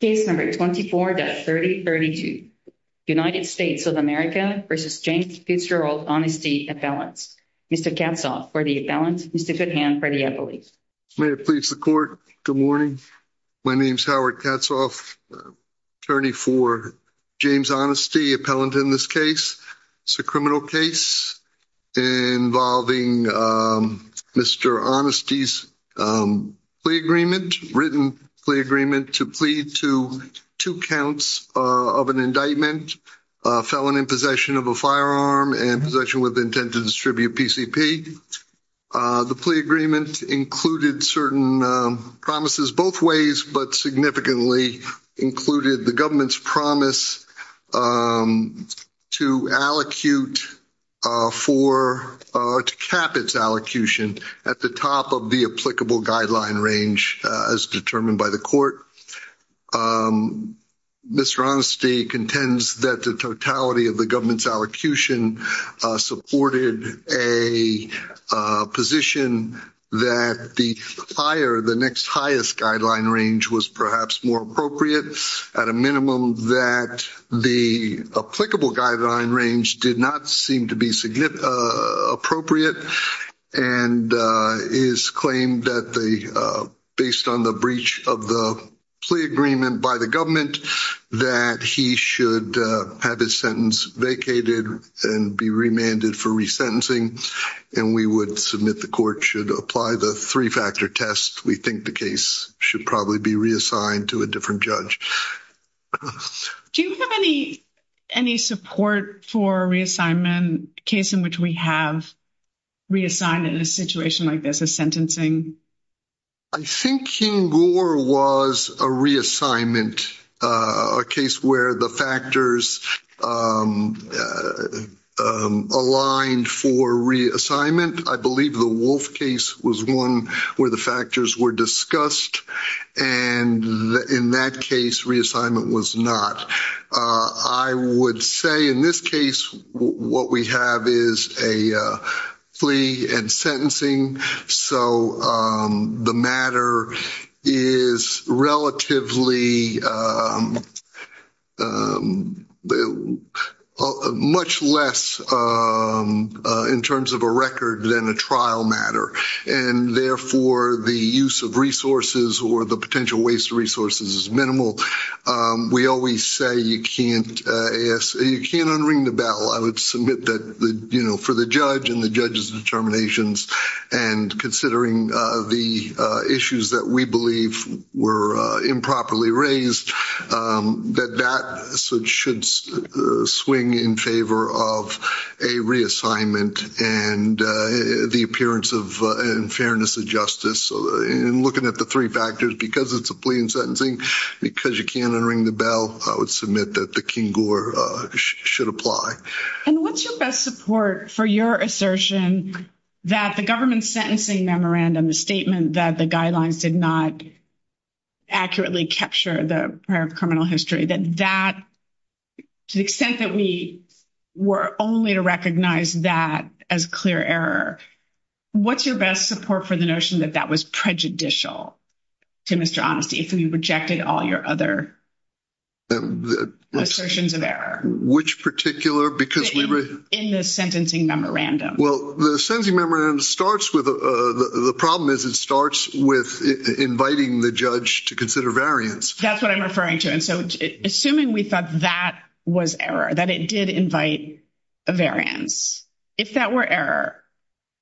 Case number 24-3032. United States of America v. James Fitzgerald Honesty Appellant. Mr. Katzoff for the appellant, Mr. Goodhand for the appellate. May it please the court, good morning. My name is Howard Katzoff, attorney for James Honesty, appellant in this case. It's a criminal case involving Mr. Honesty's plea agreement, written plea agreement to plead to two counts of an indictment, felon in possession of a firearm and possession with intent to distribute PCP. The plea agreement included certain promises both ways but significantly included the government's promise to allocute for, to cap its at the top of the applicable guideline range as determined by the court. Mr. Honesty contends that the totality of the government's allocution supported a position that the higher, the next highest guideline range was perhaps more appropriate, at a minimum that the applicable guideline range did not seem to be significant appropriate and is claimed that the, based on the breach of the plea agreement by the government, that he should have his sentence vacated and be remanded for resentencing and we would submit the court should apply the three-factor test. We think the case should probably be reassigned to a judge. Do you have any, any support for reassignment case in which we have reassigned in a situation like this as sentencing? I think King Gore was a reassignment, a case where the factors aligned for reassignment. I believe the case was one where the factors were discussed and in that case reassignment was not. I would say in this case what we have is a plea and sentencing so the matter is relatively much less in terms of a record than a trial matter and therefore the use of resources or the potential waste of resources is minimal. We always say you can't unring the bell. I would submit that the, you know, the issues that we believe were improperly raised that that should swing in favor of a reassignment and the appearance of and fairness of justice and looking at the three factors because it's a plea and sentencing because you can't unring the bell I would submit that the King Gore should apply. And what's your best support for your assertion that the government's sentencing memorandum, the statement that the guidelines did not accurately capture the prior criminal history, that that to the extent that we were only to recognize that as clear error, what's your best support for the notion that that was prejudicial to Mr. Honesty if we rejected all your other assertions of error? Which particular? In the sentencing memorandum. Well the sentencing memorandum starts with, the problem is it starts with inviting the judge to consider variance. That's what I'm referring to and so assuming we thought that was error, that it did invite a variance, if that were error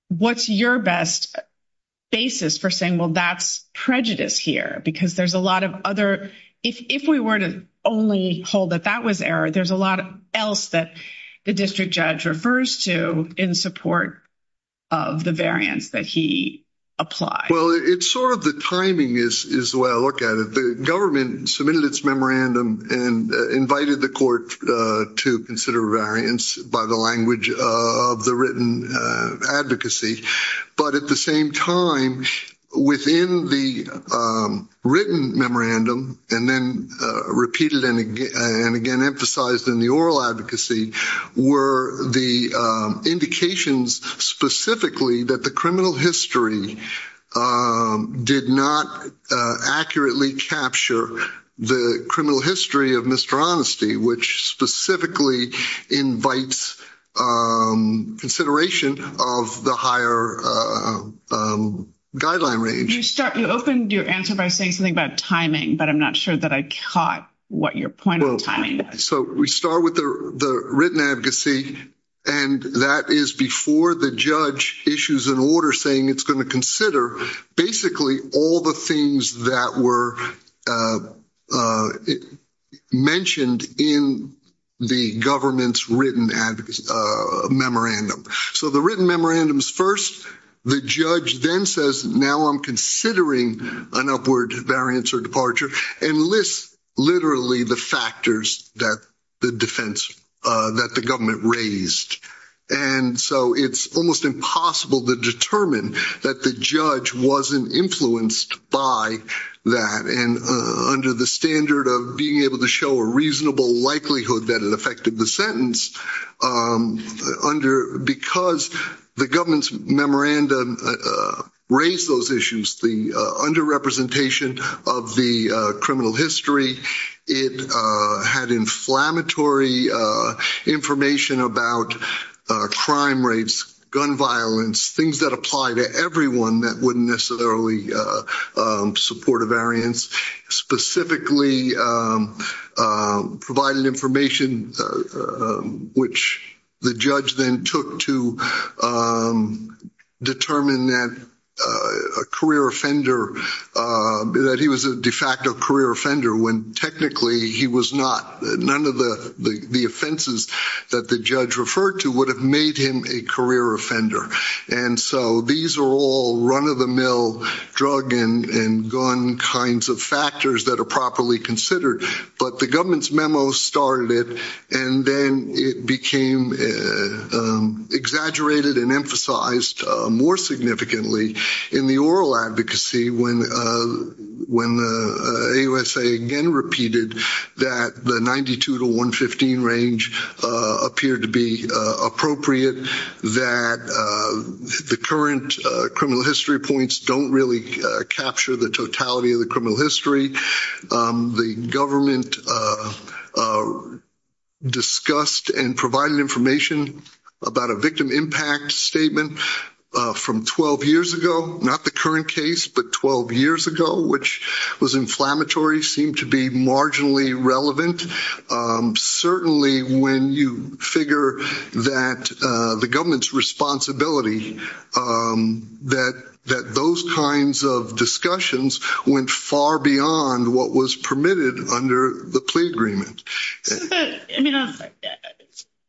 what's your best basis for saying well that's prejudice here because there's a lot of other, if we were to only hold that that was error there's a lot of else that the district judge refers to in support of the variance that he applied. Well it's sort of the timing is is the way I look at it. The government submitted its memorandum and invited the court to consider variance by the language of the written advocacy but at the same time within the written memorandum and then repeated and again and again emphasized in the oral advocacy were the indications specifically that the criminal history did not accurately capture the criminal history of Mr. Honesty which specifically invites consideration of the higher guideline range. You start you answer by saying something about timing but I'm not sure that I caught what your point of timing. So we start with the written advocacy and that is before the judge issues an order saying it's going to consider basically all the things that were mentioned in the government's written advocacy memorandum. So the memorandums first the judge then says now I'm considering an upward variance or departure and lists literally the factors that the defense that the government raised and so it's almost impossible to determine that the judge wasn't influenced by that and under the standard of being able to show a The government's memorandum raised those issues the under-representation of the criminal history. It had inflammatory information about crime rates, gun violence, things that apply to everyone that wouldn't necessarily support a specifically provided information which the judge then took to determine that a career offender that he was a de facto career offender when technically he was not none of the the offenses that the judge referred to would have made him a offender and so these are all run-of-the-mill drug and gun kinds of factors that are properly considered but the government's memo started it and then it became exaggerated and emphasized more significantly in the oral advocacy when when the AUSA again repeated that the 92 to 115 range appeared to be appropriate that the current criminal history points don't really capture the totality of the criminal history. The government discussed and provided information about a victim impact statement from 12 years ago not the current case but 12 years ago which was inflammatory seemed to be marginally relevant certainly when you figure that the government's responsibility that that those kinds of discussions went far beyond what was permitted under the plea agreement.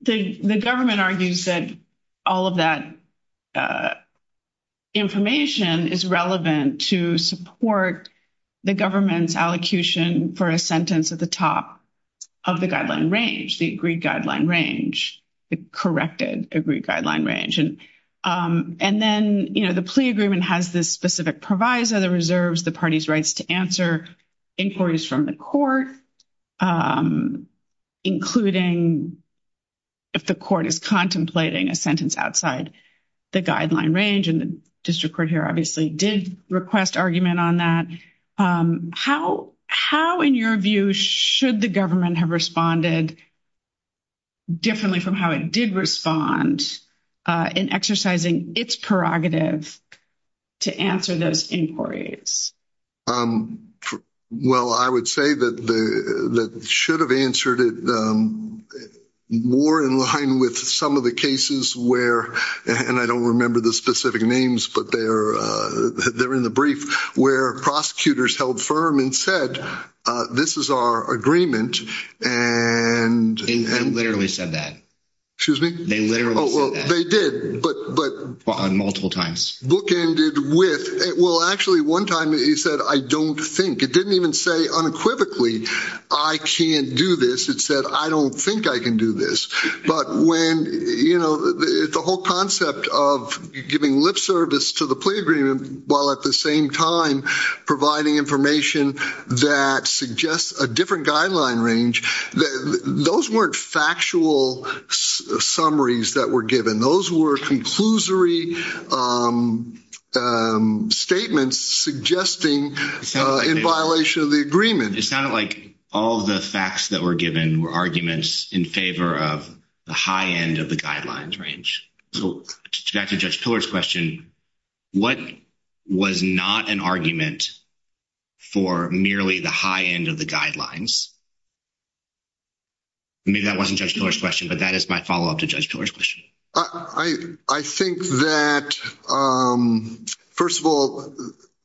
The government argues that all of that information is relevant to support the government's allocution for a sentence at the top of the guideline range the agreed guideline range the corrected agreed guideline range and and then you know the plea agreement has this specific proviso the reserves the party's rights to answer inquiries from the court including if the court is contemplating a sentence outside the guideline range and the district court here obviously did request argument on that how how in your view should the government have responded differently from how it did respond in exercising its prerogative to answer those inquiries? Well I would say that the that should have answered it more in line with some of the cases where and I don't remember the specific names but they're they're in the brief where prosecutors held firm and said this is our agreement and they literally said that excuse me they literally did but but on multiple times bookended with it will actually one time he said I don't think it didn't even say unequivocally I can't do this it said I don't think I can do this but when you know the whole concept of giving lip service to the plea agreement while at the same time providing information that suggests a different guideline range that those weren't factual summaries that were given those were conclusory statements suggesting in violation of the agreement. It sounded like all the facts that were given were arguments in favor of the high end of the guidelines range. So back to Judge Pillar's question what was not an argument for merely the high end of the guidelines? Maybe that wasn't Judge Pillar's question but that is my follow-up to Judge Pillar's question. I think that first of all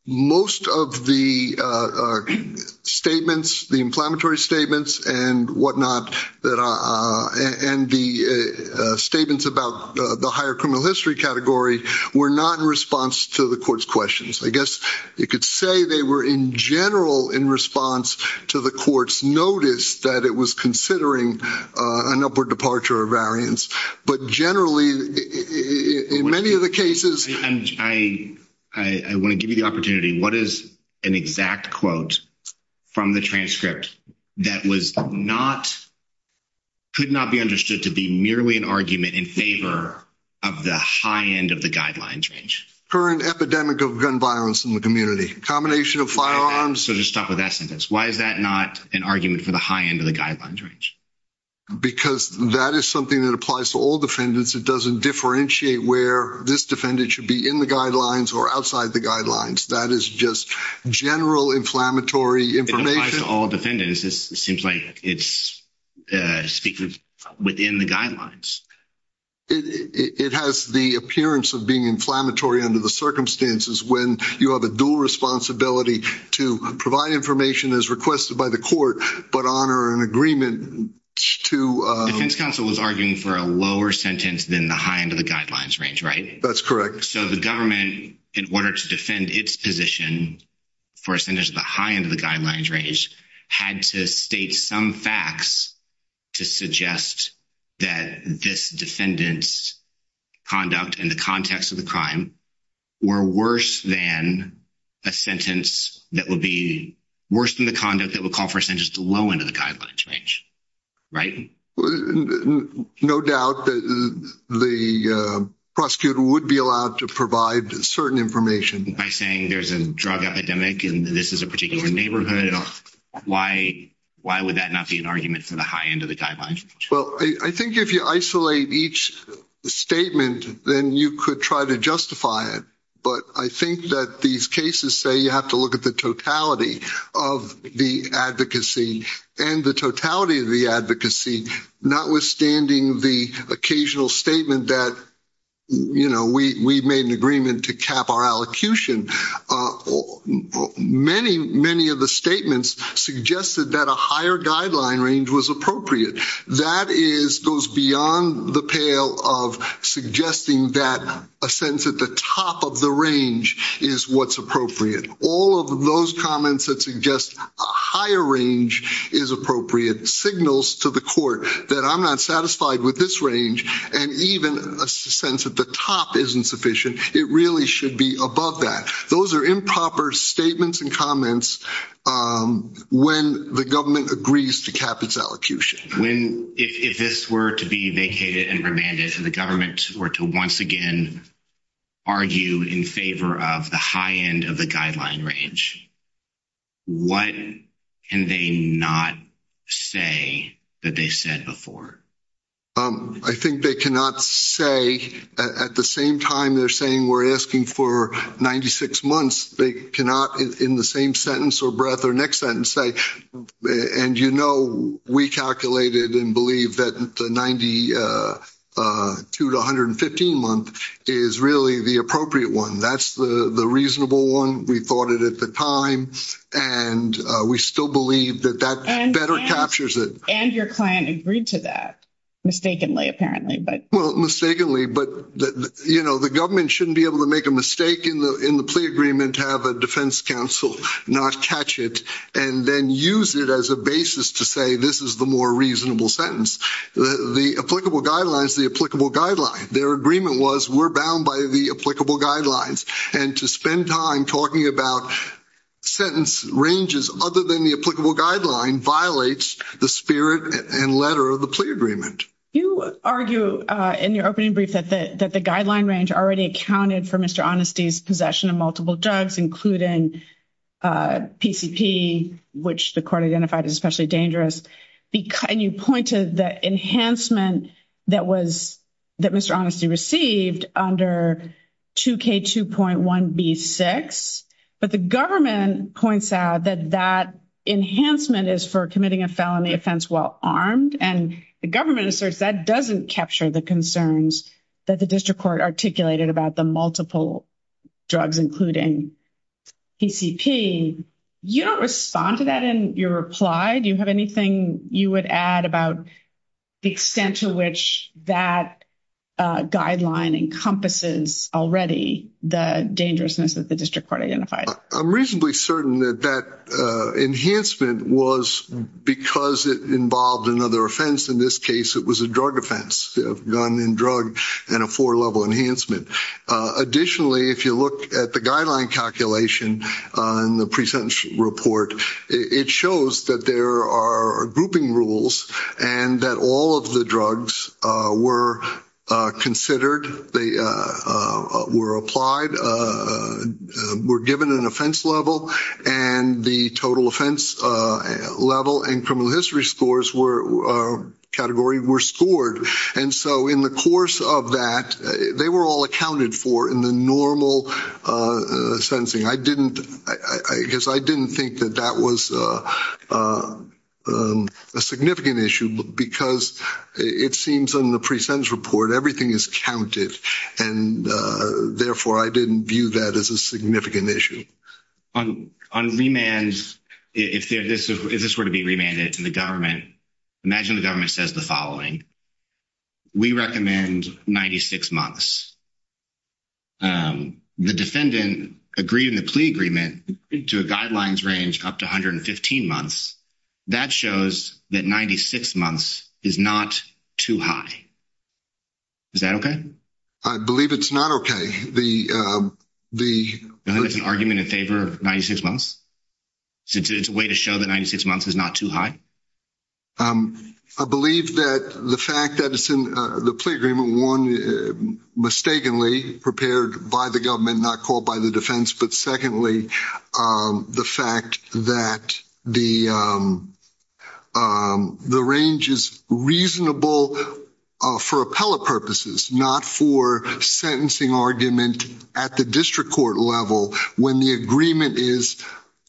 most of the statements the inflammatory statements and whatnot that and the statements about the higher criminal history category were not in response to the court's questions. I guess you could say they were in general in response to the court's notice that it was considering an upward departure of variance but generally in many of the cases and I I want to give you the opportunity what is an exact quote from the transcript that was not could not be understood to be merely an argument in favor of the high end of the guidelines range? Current epidemic of gun violence in the community combination of firearms. So just stop with that sentence why is that not an argument for the high end of the guidelines range? Because that is something that applies to all defendants it doesn't differentiate where this defendant should be in the guidelines or outside the guidelines that is just general inflammatory information. It applies to all defendants it seems like it's within the guidelines. It has the appearance of being inflammatory under the circumstances when you have a dual responsibility to provide information as requested by the court but honor an agreement to. The defense counsel was arguing for a lower sentence than the high end of the guidelines range right? That's correct. So the government in order to defend its position for a sentence of the high end of the guidelines range had to state some facts to suggest that this defendant's conduct in the context of the crime were worse than a sentence that would be worse than the conduct that would call for a sentence to low end of the guidelines range right? No doubt that the prosecutor would be allowed to provide certain information. By saying there's a drug epidemic and this is a particular neighborhood why would that not be an argument for the high end of the guidelines? Well I think if you isolate each statement then you could try to justify it but I think that these cases say you have to look at the totality of the advocacy and the totality of the advocacy notwithstanding the occasional statement that you know we we've made an agreement to cap our allocution. Many many of the statements suggested that a higher guideline range was appropriate. That is goes beyond the pale of suggesting that a sentence at the top of the range is what's appropriate. All of those comments that suggest a higher range is appropriate signals to the court that I'm not satisfied with this range and even a sense that the top isn't sufficient it really should be above that. Those are improper statements and comments when the government agrees to cap its allocution. When if this were to be vacated and remanded and the government were to once again argue in favor of the end of the guideline range what can they not say that they said before? I think they cannot say at the same time they're saying we're asking for 96 months they cannot in the same sentence or breath or next sentence say and you know we calculated and believe that 92 to 115 month is really the appropriate one that's the the reasonable one we thought it at the time and we still believe that that better captures it and your client agreed to that mistakenly apparently but well mistakenly but you know the government shouldn't be able to make a mistake in the in the plea agreement have a defense counsel not catch it and then use it as a basis to say this is the more reasonable sentence the applicable guidelines the applicable guideline their agreement was we're bound by the applicable guidelines and to spend time talking about sentence ranges other than the applicable guideline violates the spirit and letter of the plea agreement you argue in your opening brief that that the guideline range already accounted for mr. honesty's possession of multiple drugs including PCP which the court identified is especially dangerous because you to the enhancement that was that mr. honesty received under 2k 2.1 b6 but the government points out that that enhancement is for committing a felony offense while armed and the government asserts that doesn't capture the concerns that the district court articulated about the multiple drugs including PCP you don't respond to that in your reply do you have anything you would add about the extent to which that guideline encompasses already the dangerousness that the district court identified I'm reasonably certain that that enhancement was because it involved another offense in this case it was a drug offense gun and drug and a four-level enhancement additionally if you look at the guideline calculation in the present report it shows that there are grouping rules and that all of the drugs were considered they were applied were given an offense level and the total offense level and criminal history scores were category were scored and so in the course of that they were all accounted for in the normal sentencing I didn't I guess I didn't think that that was a significant issue because it seems on the precincts report everything is counted and therefore I didn't view that as a significant issue on on remands if there this is this were to be remanded to the government imagine the government says the following we recommend 96 months the defendant agreed in the plea agreement into a guidelines range up to 115 months that shows that 96 months is not too high is that okay I believe it's not okay the the argument in favor of 96 months since it's a way to show that 96 months is not too high I believe that the fact that it's in the plea agreement one mistakenly prepared by the government not called by the defense but secondly the fact that the the range is reasonable for appellate purposes not for sentencing argument at the district court level when the agreement is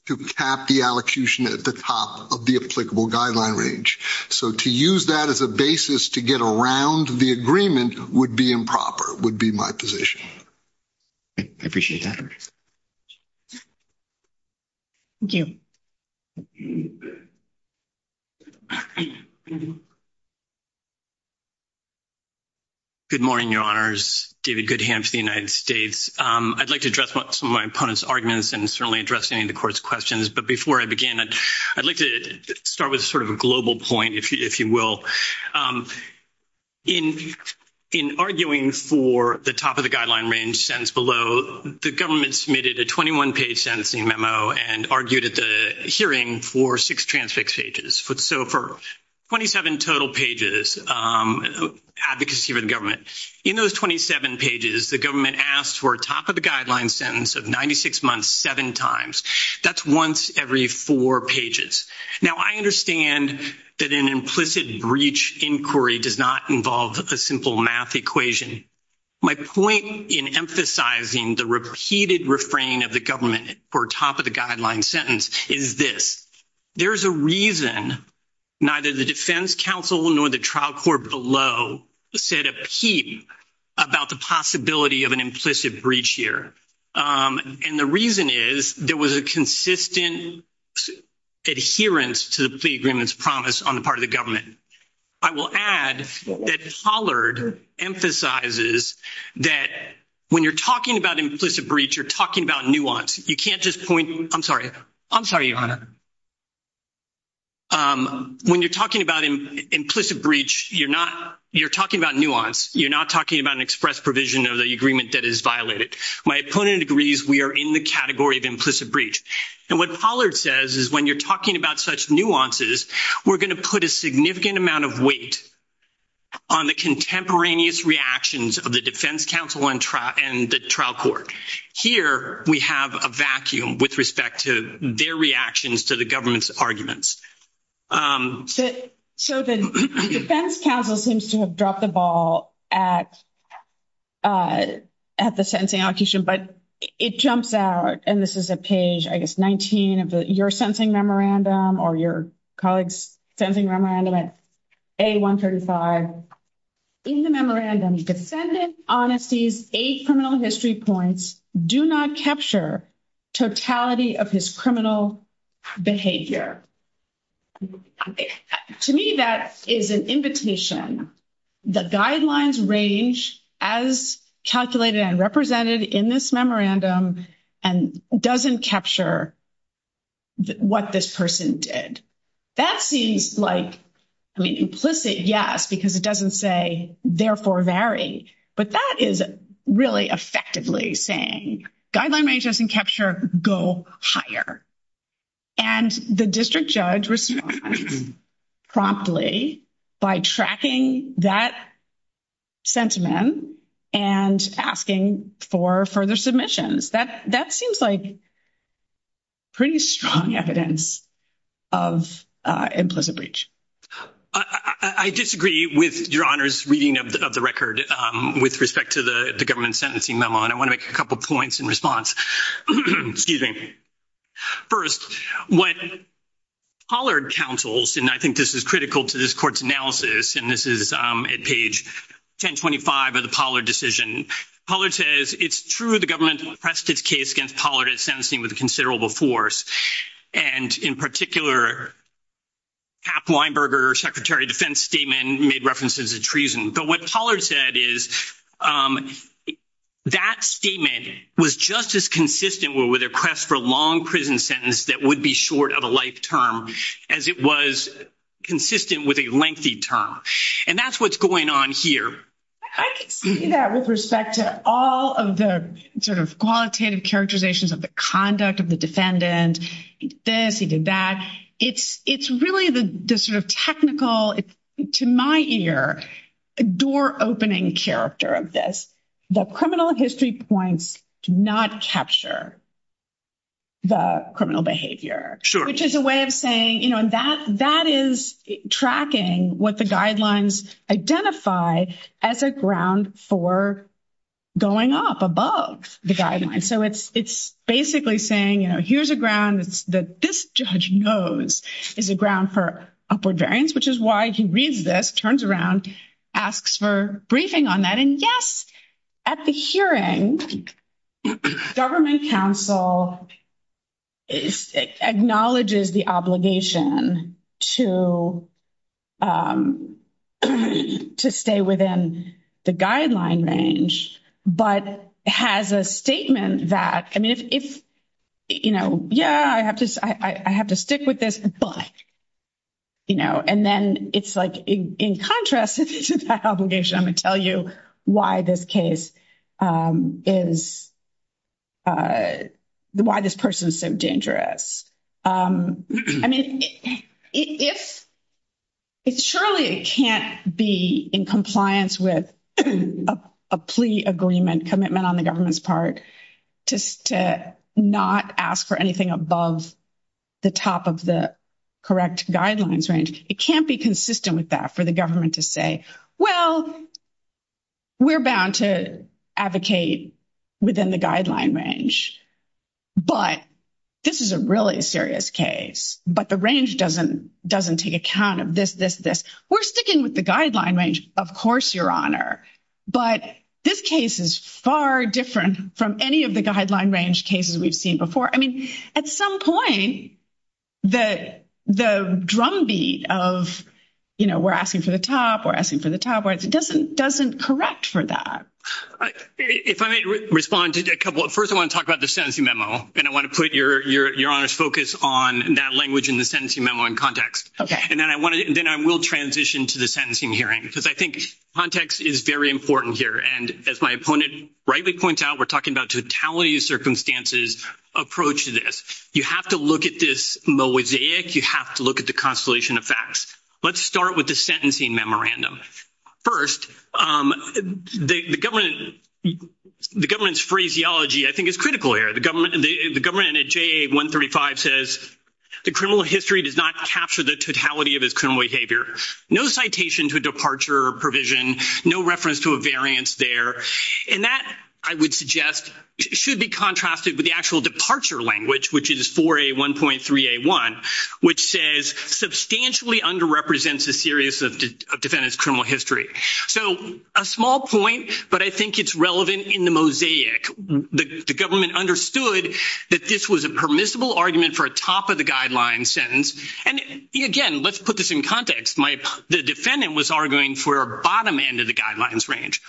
to cap the allocution at the top of the applicable guideline range so to use that as a basis to get around the agreement would be improper would be my position I appreciate that you good morning your honors David Goodham to the United States I'd like to address what some of my opponents arguments and certainly addressing the court's questions but before I begin I'd like to start with a sort of a global point if you will in in arguing for the top of the guideline range sentence below the government submitted a 21 page sentencing memo and argued at the hearing for six transfix pages foot so for 27 total pages advocacy for the government in those 27 pages the government asked for a top of the guideline sentence of 96 months seven times that's once every four pages now I understand that an implicit breach inquiry does not involve a simple math equation my point in emphasizing the repeated refrain of the government or top of the guideline sentence is this there's a reason neither the Defense Council nor the trial court below said a peep about the possibility of an implicit breach here and the reason is there was a consistent adherence to the agreements promise on the part of the government I will add that Pollard emphasizes that when you're talking about implicit breach you're talking about nuance you can't just point I'm sorry I'm sorry your honor when you're talking about him implicit breach you're not you're talking about nuance you're not talking about an express provision of the agreement that is violated my opponent agrees we are in the category of implicit breach and what Pollard says is when you're talking about such nuances we're going to put a significant amount of weight on the contemporaneous reactions of the Defense Council and trial and the trial court here we have a vacuum with respect to their reactions to the government's arguments so the Defense Council seems to have dropped the ball at at the sentencing allocation but it jumps out and this is a page I guess 19 of the you're sentencing memorandum or your colleagues sentencing memorandum at a 135 in the memorandum you could send it honest ease a criminal history points do not capture totality of his criminal behavior to me that is an invitation the guidelines range as calculated and presented in this memorandum and doesn't capture what this person did that seems like I mean implicit yes because it doesn't say therefore very but that is really effectively saying guideline may just in capture go higher and the district judge response promptly by tracking that sentiment and asking for further submissions that that seems like pretty strong evidence of implicit breach I disagree with your honors reading of the record with respect to the government sentencing memo and I want to make a couple points in response first what Pollard counsels and I think this is critical to this it's true the government pressed its case against Pollard at sentencing with a considerable force and in particular hap Weinberger secretary defense statement made references of treason but what Pollard said is that statement was just as consistent with a quest for long prison sentence that would be short of a life term as it was consistent with a lengthy term and that's what's going on with respect to all of the sort of qualitative characterizations of the conduct of the defendant this he did that it's it's really the sort of technical to my ear a door opening character of this the criminal history points to not capture the criminal behavior sure which is a way of saying you know and that that is tracking what the guidelines identify as a ground for going up above the guidelines so it's it's basically saying you know here's a ground it's that this judge knows is a ground for upward variance which is why he reads this turns around asks for briefing on that and yes at the hearing government counsel is acknowledges the obligation to to stay within the guideline range but has a statement that I mean if you know yeah I have to I have to stick with this but you know and then it's like in contrast to that obligation I'm gonna tell you why this case is why this person is so dangerous I mean if it's surely it can't be in compliance with a plea agreement commitment on the government's part just to not ask for anything above the top of the correct guidelines range it can't be consistent with that for the government to say well we're bound to advocate within the guideline range but this is a really serious case but the range doesn't doesn't take account of this this this we're sticking with the guideline range of course your honor but this case is far different from any of the guideline range cases we've seen before I mean at some point that the drumbeat of you know we're asking for the top or asking for the top words it doesn't doesn't correct for that if I may respond to a couple at first I want to talk about the sentencing memo and I want to put your your your honors focus on that language in the sentencing memo in context okay and then I wanted and then I will transition to the sentencing hearing because I think context is very important here and as my opponent rightly points out we're talking about totality of circumstances approach to this you have to look at this mosaic you have to look at the constellation of facts let's start with the sentencing memorandum first the government the government's phraseology I think is critical here the government and the government at JA 135 says the criminal history does not capture the totality of his criminal behavior no citation to a departure or provision no reference to a variance there and that I would suggest should be contrasted with the actual under represents a series of defendants criminal history so a small point but I think it's relevant in the mosaic the government understood that this was a permissible argument for a top of the guidelines sentence and again let's put this in context my the defendant was arguing for a bottom end of the guidelines range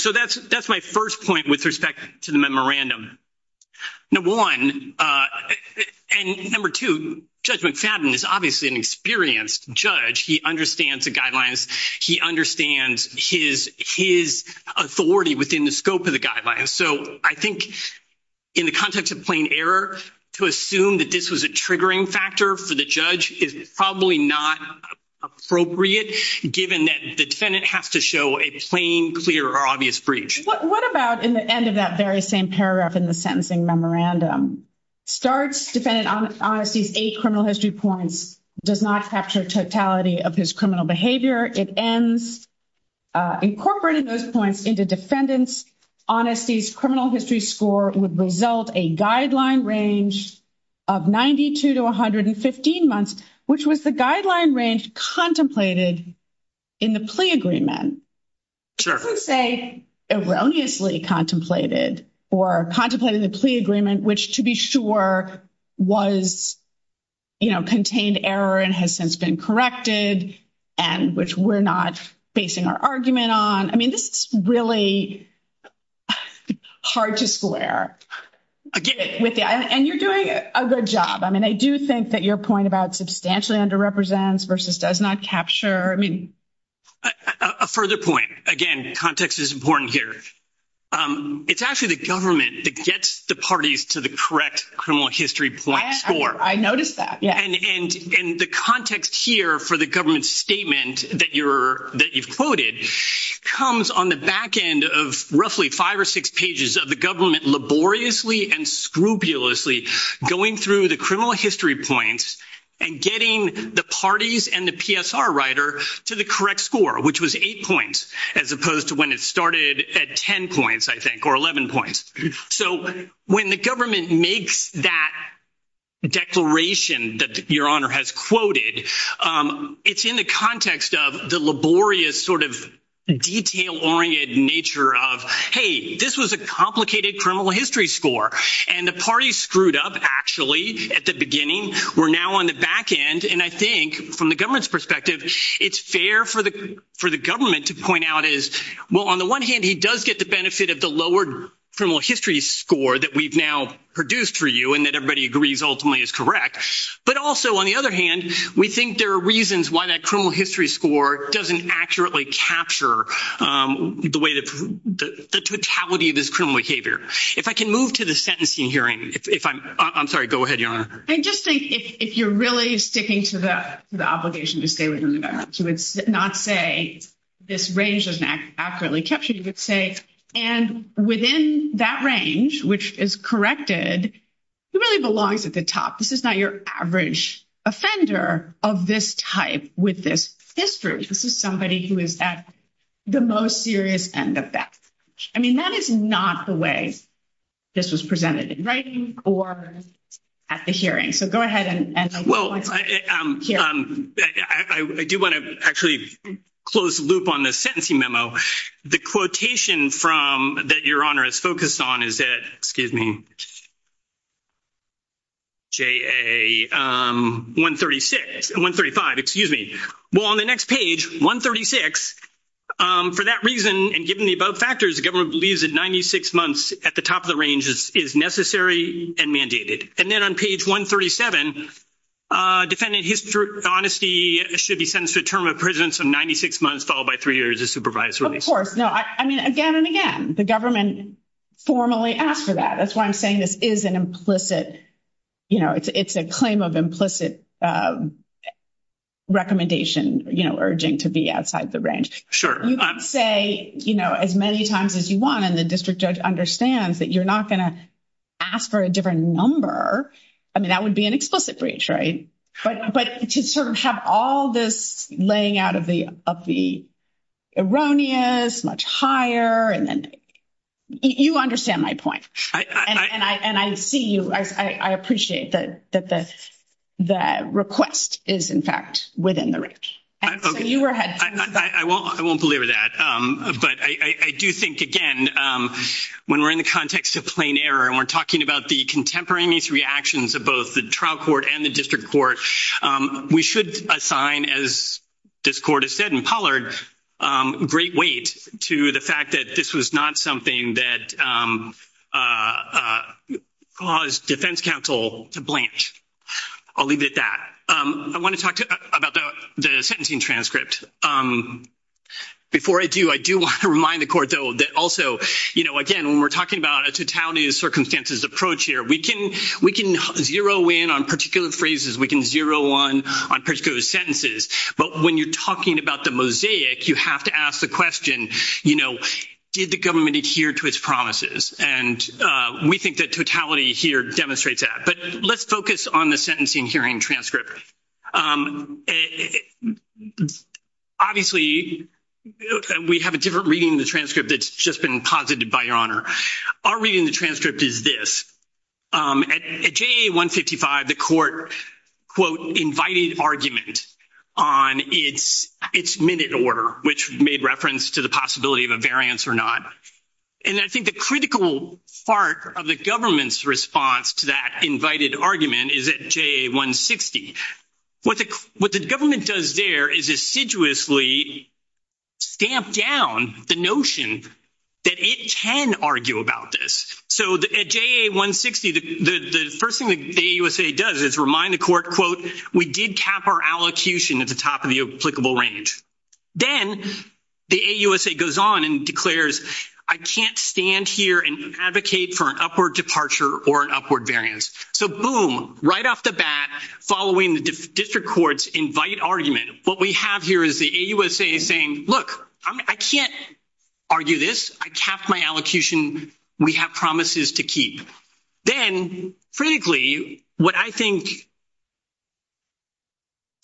so that's that's my first point with respect to the judge he understands the guidelines he understands his his authority within the scope of the guidelines so I think in the context of plain error to assume that this was a triggering factor for the judge is probably not appropriate given that the defendant has to show a plain clear or obvious breach what about in the end of that very same paragraph in the sentencing memorandum starts defendant on honesty's a criminal history points does not capture totality of his criminal behavior it ends incorporated those points into defendants honesty's criminal history score would result a guideline range of 92 to 115 months which was the guideline range contemplated in the plea agreement say erroneously contemplated or contemplated the plea agreement which to be sure was you know contained error and has since been corrected and which we're not basing our argument on I mean this is really hard to square again with you and you're doing a good job I mean I do think that your point about substantially under represents versus does not capture I mean a further point again context is important here it's actually the government that gets the parties to the correct criminal history points or I noticed that yeah and in the context here for the government statement that you're that you've quoted comes on the back end of roughly five or six pages of the government laboriously and scrupulously going through the criminal history points and getting the parties and the PSR writer to the correct score which was eight points as opposed to when it started at ten points I think or eleven points so when the government makes that declaration that your honor has quoted it's in the context of the laborious sort of detail oriented nature of hey this was a complicated criminal history score and the party screwed up actually at the beginning we're now on the back end and I think from the government's perspective it's fair for the for the government to point out is well on the one hand he does get the benefit of the lowered from a history score that we've now produced for you and that everybody agrees ultimately is correct but also on the other hand we think there are reasons why that criminal history score doesn't accurately capture the way that the totality of this criminal behavior if I can move to the sentencing hearing if I'm sorry go ahead you know I just think if you're really sticking to the obligation to stay within the back she would not say this range doesn't accurately capture you could say and within that range which is corrected it really belongs at the top this is not your average offender of this type with this history this is somebody who is at the most serious end of that I mean that is not the way this was presented in at the hearing so go ahead and well I do want to actually close the loop on the sentencing memo the quotation from that your honor is focused on is that excuse me ja 136 and 135 excuse me well on the next page 136 for that reason and given the above factors the government believes in 96 months at the top of the ranges is necessary and mandated and then on page 137 defendant history honesty should be sentenced to a term of prison some 96 months followed by three years of supervisory course no I mean again and again the government formally asked for that that's why I'm saying this is an implicit you know it's a claim of implicit recommendation you know urging to be outside the range sure you say you know as many times as you want and the district judge understands that you're not gonna ask for a different number I mean that would be an explicit breach right but but to sort of have all this laying out of the of the erroneous much higher and then you understand my point and I and I see you I appreciate that that the the request is in fact within the range I won't believe that but I do think again when we're in the context of plain error and we're talking about the contemporaneous reactions of both the trial court and the district court we should assign as this court has said in Pollard great weight to the fact that this was not something that caused defense counsel to I'll leave it at that I want to talk about the sentencing transcript before I do I do want to remind the court though that also you know again when we're talking about a totality of circumstances approach here we can we can zero in on particular phrases we can zero on on particular sentences but when you're talking about the mosaic you have to ask the question you know did the government adhere to its promises and we think that totality here demonstrates that but let's focus on the sentencing hearing transcript obviously we have a different reading the transcript that's just been posited by your honor our reading the transcript is this at GA 155 the court quote invited argument on its its minute order which made reference to the possibility of a variance or not and I think the critical part of the government's response to that invited argument is at GA 160 what the what the government does there is assiduously stamp down the notion that it can argue about this so the GA 160 the first thing the USA does is remind the court quote we did cap our allocution at the top of the applicable range then the AUSA goes on and declares I can't stand here and advocate for an upward departure or an upward variance so boom right off the bat following the district courts invite argument what we have here is the AUSA saying look I can't argue this I capped my allocation we have promises to keep then frankly what I think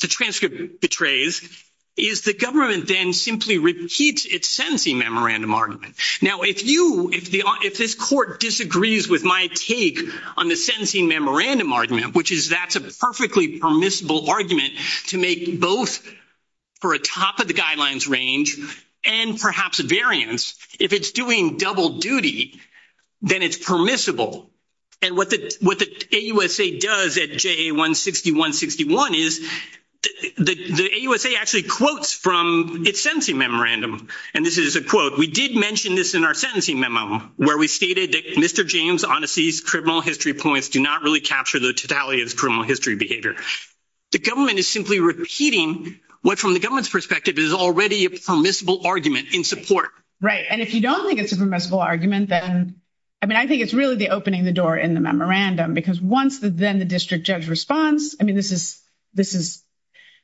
the transcript betrays is the government then simply repeats its sentencing memorandum argument now if you if the if this court disagrees with my take on the sentencing memorandum argument which is that's a perfectly permissible argument to make both for a top of the guidelines range and perhaps a variance if it's doing double duty then it's permissible and what the what the AUSA does at GA 160 161 is the the AUSA actually quotes from its sentencing memorandum and this is a quote we did mention this in our sentencing memo where we stated mr. James Onassis criminal history points do not really capture the totality of his criminal history behavior the government is simply repeating what from the government's perspective is already a permissible argument in support right and if you don't think it's a permissible argument then I mean I think it's really the opening the door in the memorandum because once the then the district judge response I mean this is this is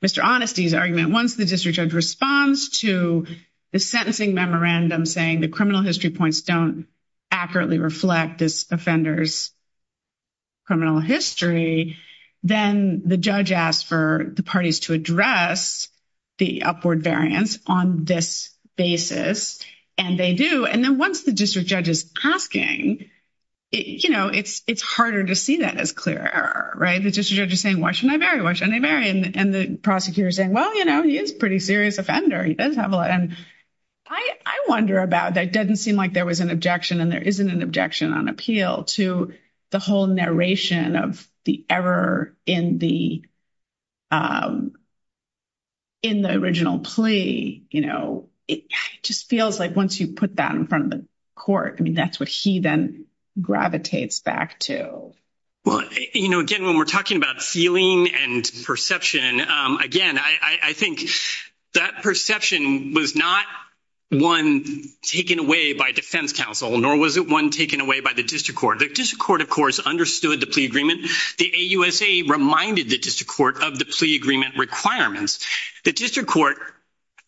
mr. honesty's argument once the district judge responds to the sentencing memorandum saying the criminal history points don't accurately reflect this offenders criminal history then the judge asked for the parties to address the upward variance on this basis and they do and then once the district judge is asking you know it's it's harder to see that as clear right the district judge is saying watch when I bury watch and they bury and the prosecutor saying well you know he is pretty serious offender he does have a lot and I wonder about that doesn't seem like there was an objection and there isn't an objection on appeal to the whole narration of the error in the in the original plea you know it just feels like once you put that in front of the court I mean that's what he then gravitates back to well you know again when we're talking about feeling and perception again I think that perception was not one taken away by defense counsel nor was it one taken away by the district court the district court of course understood the plea agreement the a USA reminded the district court of the plea agreement requirements the district court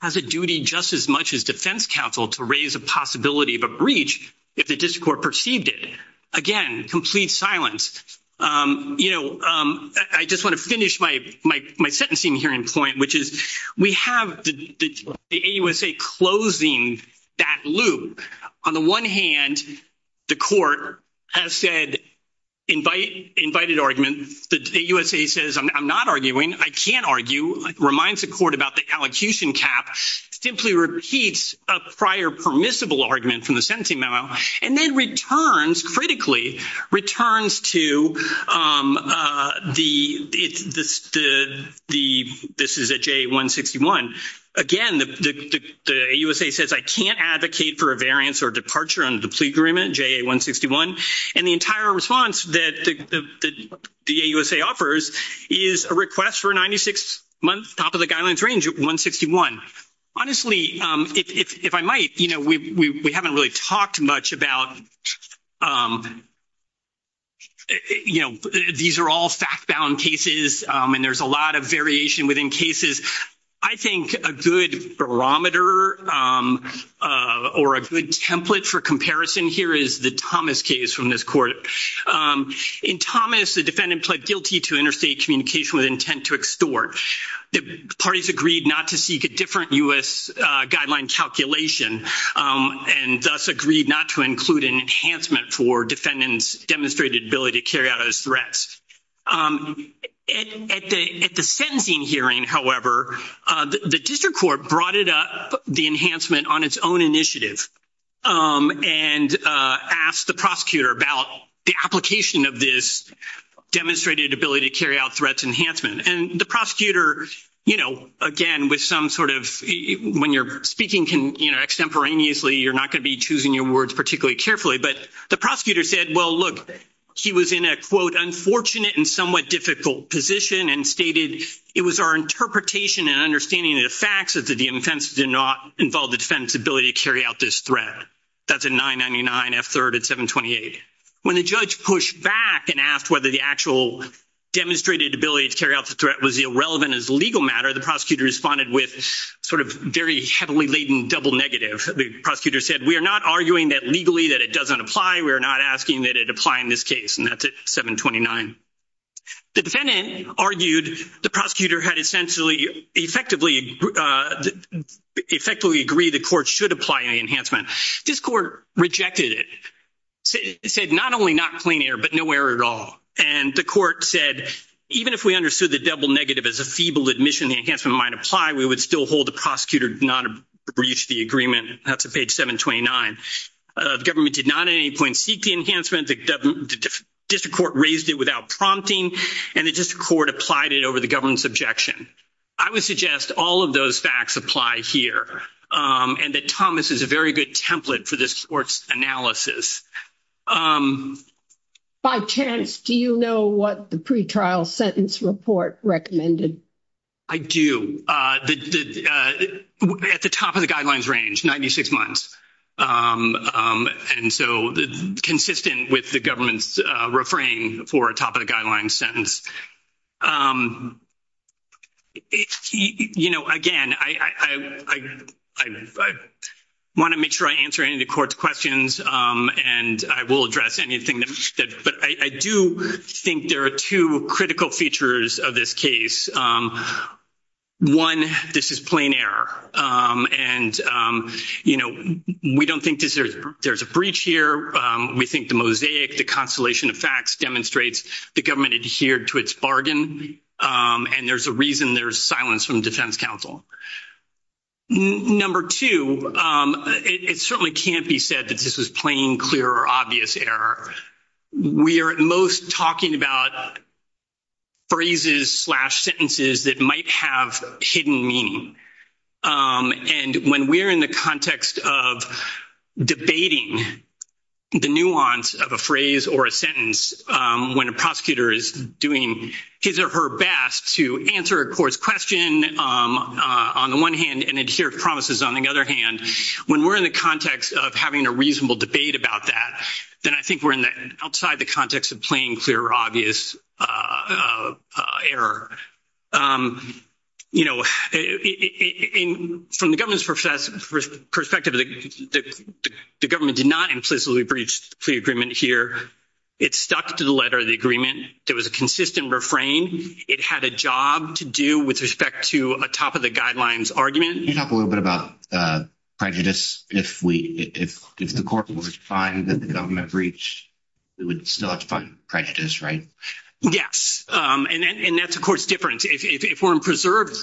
has a duty just as much as defense counsel to raise a possibility of a breach if the district court perceived it again complete silence you know I just want to finish my my my sentencing hearing point which is we have the a USA closing that loop on the one hand the court has said invite invited argument the USA says I'm not arguing I can't argue reminds the court about the allocution cap simply repeats a prior permissible argument from the sentencing memo and then returns critically returns to the the the this is a J 161 again the USA says I can't advocate for a variance or departure on the plea agreement J 161 and the entire response that the USA offers is a request for 96 month top of the guidelines range at 161 honestly if I might you know we haven't really talked much about you know these are all fact-bound cases and there's a lot of variation within cases I think a good barometer or a good template for comparison here is the Thomas case from this court in Thomas the defendant pled guilty to interstate communication with the parties agreed not to seek a different US guideline calculation and thus agreed not to include an enhancement for defendants demonstrated ability to carry out as threats at the sentencing hearing however the district court brought it up the enhancement on its own initiative and asked the prosecutor about the application of this demonstrated ability to carry out threats enhancement and the prosecutor you know again with some sort of when you're speaking can you know extemporaneously you're not going to be choosing your words particularly carefully but the prosecutor said well look he was in a quote unfortunate and somewhat difficult position and stated it was our interpretation and understanding of the facts of the defense did not involve the defense ability to carry out this threat that's a 999 f-3rd at 728 when the judge pushed back and asked whether the actual demonstrated ability to carry out the threat was irrelevant as legal matter the prosecutor responded with sort of very heavily laden double negative the prosecutor said we are not arguing that legally that it doesn't apply we are not asking that it apply in this case and that's at 729 the defendant argued the prosecutor had essentially effectively effectively agree the court should apply an enhancement this court rejected it said not only not clean air but nowhere at all and the court said even if we understood the double negative as a feeble admission the enhancement might apply we would still hold the prosecutor not a breach the agreement that's a page 729 the government did not at any point seek the enhancement the government district court raised it without prompting and the district court applied it over the government's objection I would suggest all of those facts apply here and that Thomas is a very good template for this sports analysis by chance do you know what the pretrial sentence report recommended I do the at the top of the guidelines range 96 months and so the consistent with the government's refrain for a top of the answer any of the court's questions and I will address anything that but I do think there are two critical features of this case one this is plain error and you know we don't think this is there's a breach here we think the mosaic the constellation of facts demonstrates the government adhered to its bargain and there's a reason there's silence from defense counsel number two it certainly can't be said that this was plain clear or obvious error we are at most talking about phrases slash sentences that might have hidden meaning and when we're in the context of debating the nuance of a phrase or a sentence when a prosecutor is doing his or her best to answer a court's question on the one hand and adhere to promises on the other hand when we're in the context of having a reasonable debate about that then I think we're in that outside the context of playing clear obvious error you know from the government's professor perspective the government did not implicitly breached the agreement here it's stuck to the letter of the agreement there was a consistent refrain it had a job to do with respect to a top of the guidelines argument you know a little bit about prejudice if we if if the court was fine that the government breached it would still have to find prejudice right yes and that's a court's difference if we're in preserved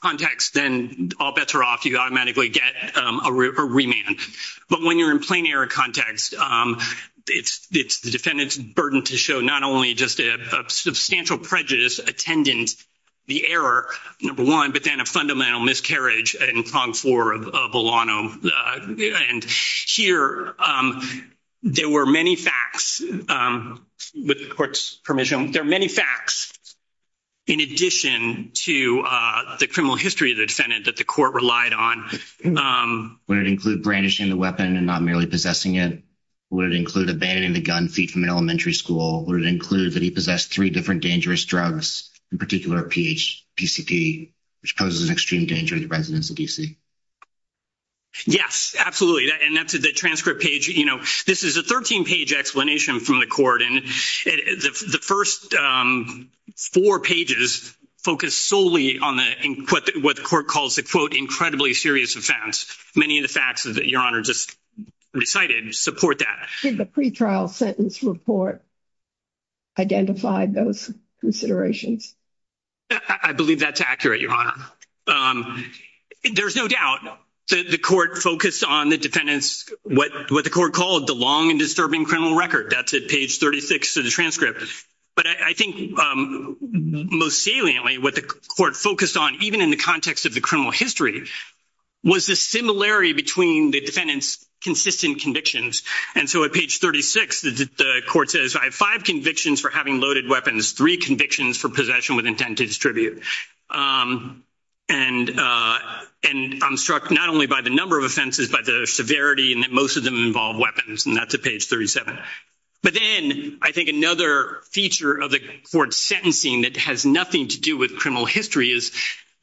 context then all bets are off you automatically get a remand but when you're in plain error context it's it's the defendant's burden to show not only just a substantial prejudice attendant the error number one but then a fundamental miscarriage and pronged for a bolano and here there were many facts with the court's permission there are many facts in addition to the criminal history of the defendant that the court relied on would include brandishing the weapon and not merely possessing it would include abandoning the gun feet from an elementary school would include that he possessed three different dangerous drugs in particular pH PCP which poses an extreme danger to residents of DC yes absolutely and that's a transcript page you know this is a 13 page explanation from the court and the first four pages focus solely on the input what the court calls the quote incredibly serious offense many of the facts that your honor just recited support that the pretrial sentence report identified those considerations I believe that's accurate your honor there's no doubt the court focused on the defendants what what the court called the long and disturbing criminal record that's at page 36 of the transcript but I think most saliently what the court focused on even in the context of the criminal history was the similarity between the defendants consistent convictions and so at page 36 the court says I have five convictions for having loaded weapons three convictions for possession with intent to distribute and and I'm struck not only by the number of offenses but the severity and that most of them involve weapons and that's a page 37 but then I think another feature of the court sentencing that has nothing to do with criminal history is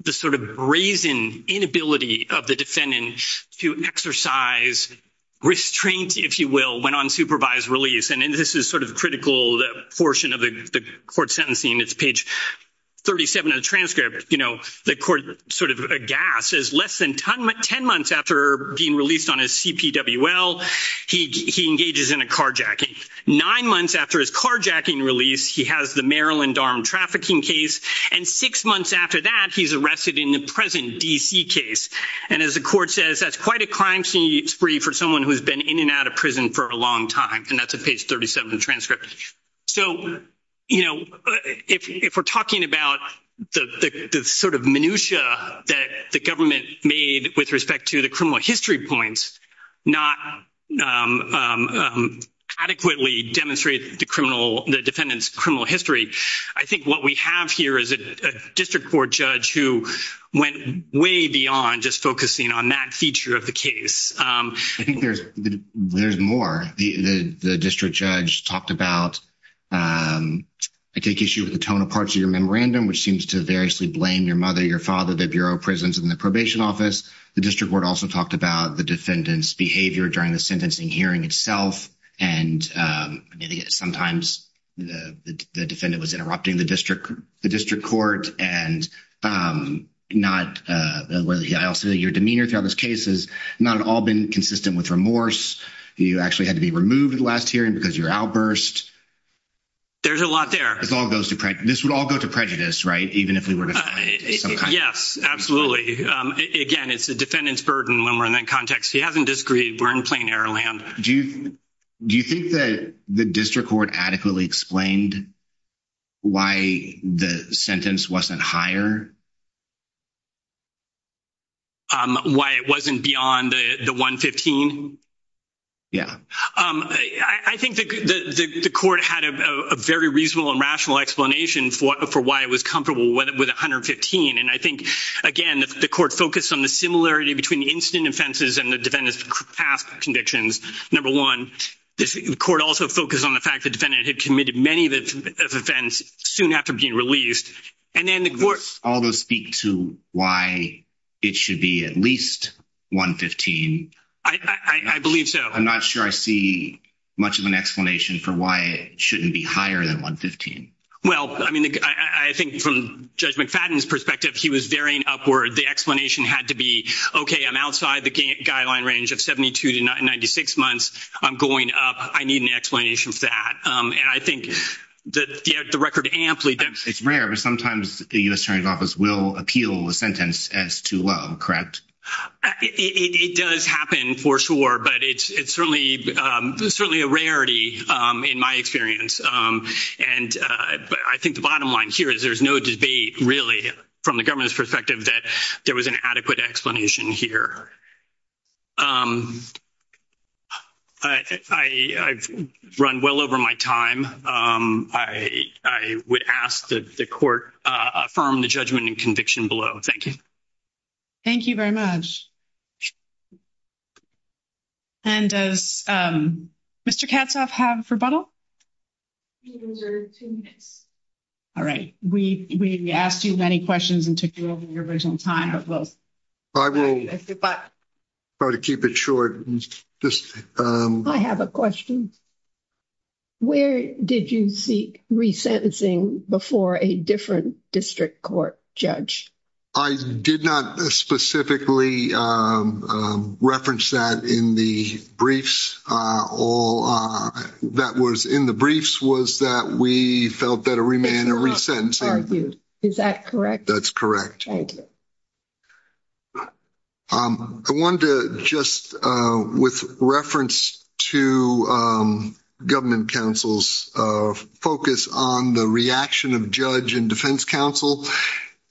the sort of brazen inability of the defendant to exercise restraint if you will went on supervised release and this is sort of critical the portion of the court sentencing it's page 37 of the transcript you know the court sort of a gas is less than 10 months after being released on CPW well he engages in a carjacking nine months after his carjacking release he has the Maryland armed trafficking case and six months after that he's arrested in the present DC case and as the court says that's quite a crime scene spree for someone who has been in and out of prison for a long time and that's a page 37 transcript so you know if we're talking about the sort of minutia that the government made with respect to the criminal history points not adequately demonstrate the criminal the defendants criminal history I think what we have here is a district court judge who went way beyond just focusing on that feature of the case I think there's there's more the district judge talked about I take issue with the tone of parts of your memorandum which seems to variously blame your mother your father the Bureau of Prisons in the behavior during the sentencing hearing itself and sometimes the defendant was interrupting the district the district court and not I also your demeanor throughout this case is not all been consistent with remorse you actually had to be removed at the last hearing because you're outburst there's a lot there it's all goes to practice would all go to prejudice right even if we were to yes absolutely again it's a defendant's burden when we're in that context he hasn't disagreed we're in plain-air land do you do you think that the district court adequately explained why the sentence wasn't higher why it wasn't beyond the 115 yeah I think the court had a very reasonable and rational explanation for why it was comfortable with it with 115 and I think again the court focused on the similarity between incident offenses and the defendants past convictions number one this court also focused on the fact that defendant had committed many events soon after being released and then the course all those speak to why it should be at least 115 I believe so I'm not sure I see much of an explanation for why it shouldn't be higher than 115 well I mean I think from judge McFadden's perspective he was varying upward the explanation had to be okay I'm outside the game guideline range of 72 to 96 months I'm going up I need an explanation for that and I think that the record amply that it's rare but sometimes the US Attorney's Office will appeal the sentence as too low correct it does happen for sure but it's it's the bottom line here is there's no debate really from the government's perspective that there was an adequate explanation here I've run well over my time I would ask that the court from the judgment and conviction below thank you thank you very much and does mr. Katz off have rebuttal all right we we asked you many questions and took you over your original time of those I will but try to keep it short just I have a question where did you seek resentencing before a different district court judge I did not specifically reference that in the briefs all that was in the briefs was that we felt that a remand or resentment is that correct that's correct I wanted to just with reference to government councils focus on the reaction of judge and defense counsel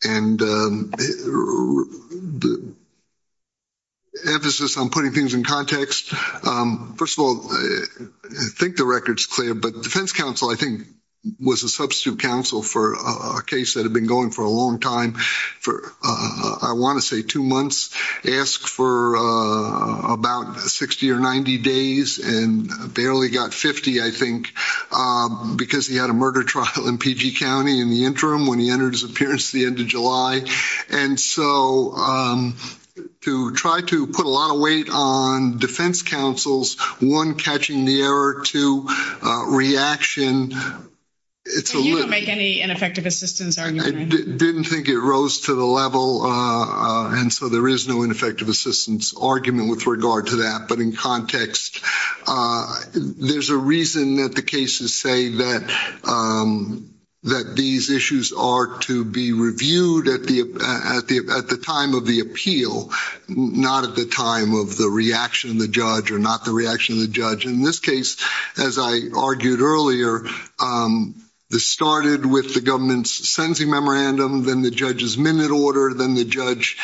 and the emphasis on putting things in context first of all I think the records clear but defense counsel I think was a substitute counsel for a case that had been going for a long time for I want to say two months ask for about 60 or 90 days and barely got 50 I think because he had a murder trial in PG County in the interim when he entered his appearance the end of July and so to try to put a lot of weight on defense counsel's one catching the error to reaction it's a little make any ineffective assistance I didn't think it rose to the level and so there is no ineffective assistance argument with regard to that but in context there's a reason that the cases say that that these issues are to be reviewed at the at the at the time of the appeal not at the time of the reaction of the judge or not the reaction of the judge in this case as I argued earlier this started with the government's sentencing memorandum then the judge's minute order than the judge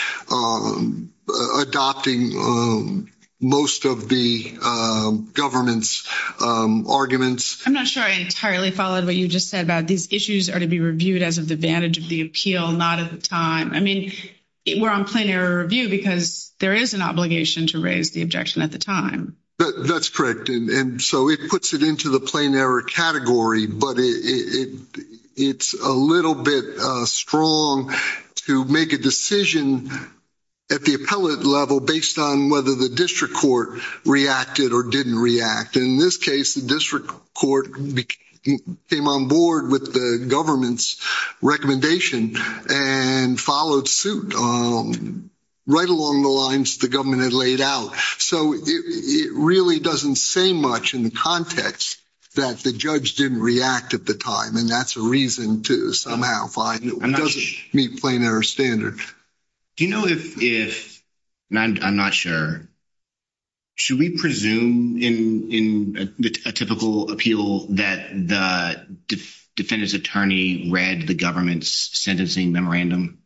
adopting most of the government's arguments I'm not sure I entirely followed what you just said about these issues are to be reviewed as of the vantage of the appeal not at the time I mean we're on plenary review because there is an obligation to raise the objection at the time that's correct and so it puts it into the plain error category but it's a little bit strong to make a decision at the appellate level based on whether the district court reacted or didn't react in this case the district court became on board with the government's recommendation and followed suit right along the lines the government had laid out so it really doesn't say much in the context that the judge didn't react at the time and that's a reason to somehow find it doesn't meet plenary standard do you know if if I'm not sure should we presume in in a typical appeal that the defendant's attorney read the government's sentencing memorandum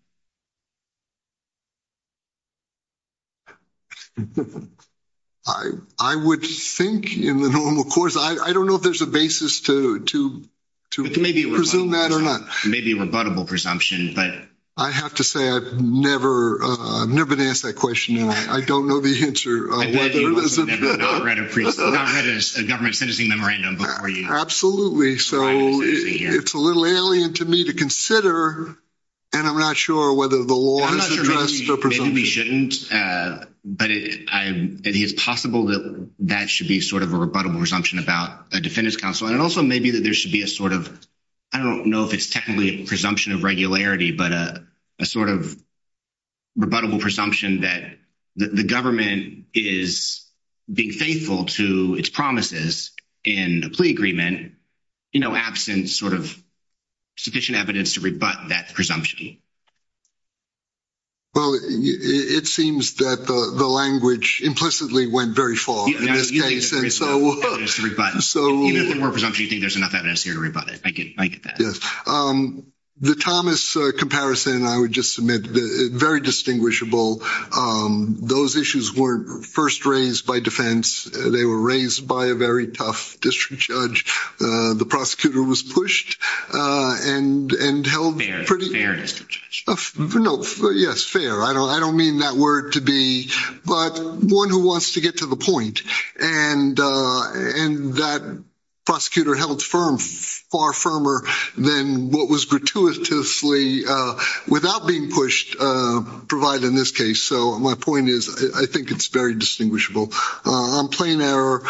I I would think in the normal course I I don't know if there's a basis to to to maybe resume that or not maybe a rebuttable presumption but I have to say I've never never been asked that question I don't know the answer government sentencing memorandum absolutely so it's a little alien to me to consider and I'm not sure whether the law shouldn't but I think it's possible that that should be sort of a rebuttable presumption about a defendant's counsel and also maybe that there should be a sort of I don't know if it's technically a presumption of regularity but a sort of rebuttable presumption that the government is being faithful to its promises in a plea you know absence sort of sufficient evidence to rebut that presumption well it seems that the language implicitly went very far yes the Thomas comparison I would just submit very distinguishable those issues weren't first raised by they were raised by a very tough district judge the prosecutor was pushed and and held yes fair I don't I don't mean that word to be but one who wants to get to the point and and that prosecutor held firm far firmer than what was gratuitously without being pushed provided in this case so my point is I think it's very distinguishable on plain error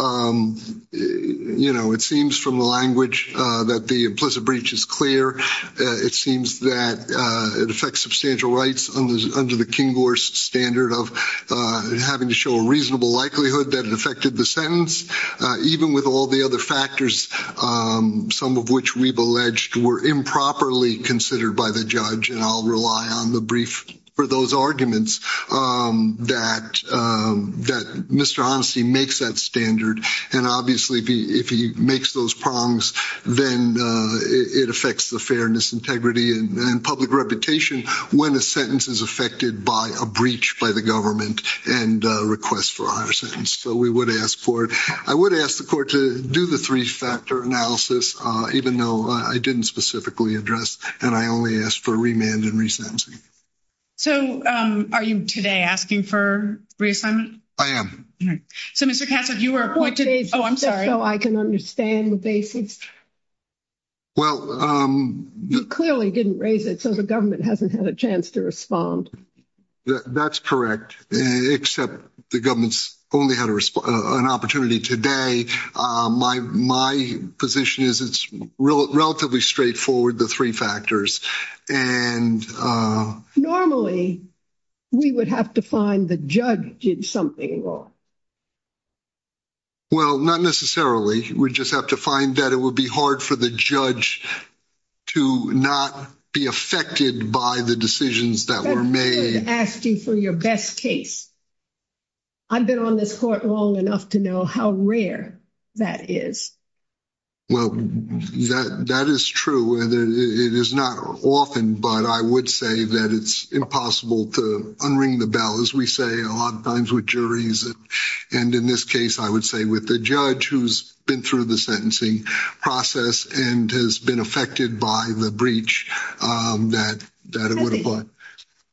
you know it seems from the language that the implicit breach is clear it seems that it affects substantial rights on those under the King or standard of having to show a reasonable likelihood that it affected the sentence even with all the other factors some of which we've alleged were improperly considered by the judge and I'll rely on the brief for those arguments that that mr. honesty makes that standard and obviously if he makes those prongs then it affects the fairness integrity and public reputation when a sentence is affected by a breach by the government and requests for our sentence so we would ask for it I would ask the court to do the three-factor analysis even though I didn't specifically address and I only asked for a remand and resentencing so are you today asking for reassignment I am so mr. castle you were appointed oh I'm sorry oh I can understand the basics well clearly didn't raise it so the government hasn't had a chance to respond that's correct except the government's only had a response an opportunity today my my position is it's relatively straightforward the three factors and normally we would have to find the judge did something wrong well not necessarily we just have to find that it would be hard for the judge to not be affected by the decisions that were made asking for your best case I've been on this court long enough to know how rare that is well that is true it is not often but I would say that it's impossible to unring the bell as we say a lot of times with juries and in this case I would say with the judge who's been through the sentencing process and has been affected by the breach that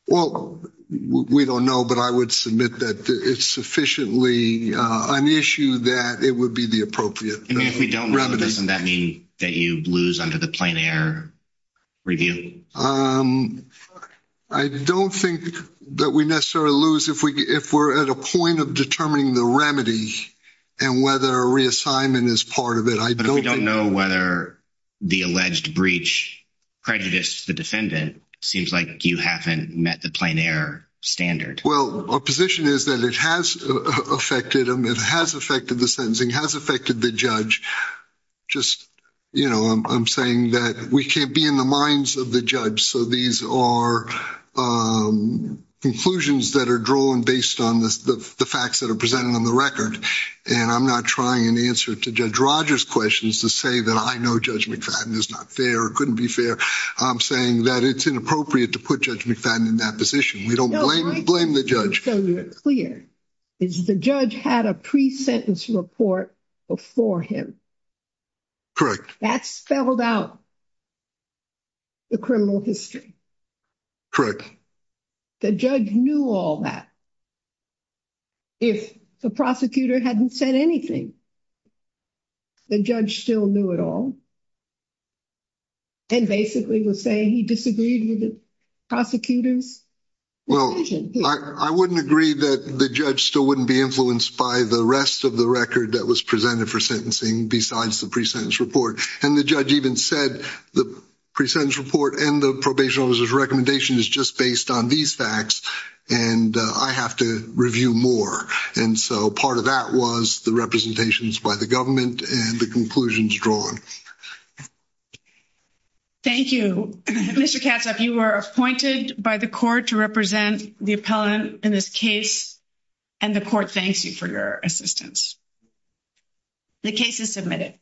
well we don't know but I would submit that it's sufficiently an issue that it would be the appropriate and if we don't rather doesn't that mean that you lose under the plein air review I don't think that we necessarily lose if we if we're at a point of determining the remedy and whether a reassignment is part of it I don't know whether the alleged breach prejudice the defendant seems like you haven't met the plein air standard well our position is that it has affected him it has affected the sentencing has affected the judge just you know I'm saying that we can't be in the minds of the judge so these are conclusions that are drawn based on this the facts that are presented on the record and I'm not trying an answer to judge Rogers questions to say that I know judge McFadden is not fair couldn't be fair I'm saying that it's inappropriate to put judge McFadden in that position we don't blame blame the judge clear is the judge had a pre-sentence report before him correct that's spelled out the criminal history correct the judge knew all that if the prosecutor hadn't said anything the judge still knew it all and basically was saying he disagreed prosecutors well I wouldn't agree that the judge still wouldn't be influenced by the rest of the record that was presented for sentencing besides the pre-sentence report and the judge even said the pre-sentence report and the probation officer's recommendation is just based on these facts and I have to review more and so part of that was the representations by the government and the conclusions drawn thank you mr. cats up you were appointed by the court to represent the appellant in this case and the court thanks you for your assistance the case is submitted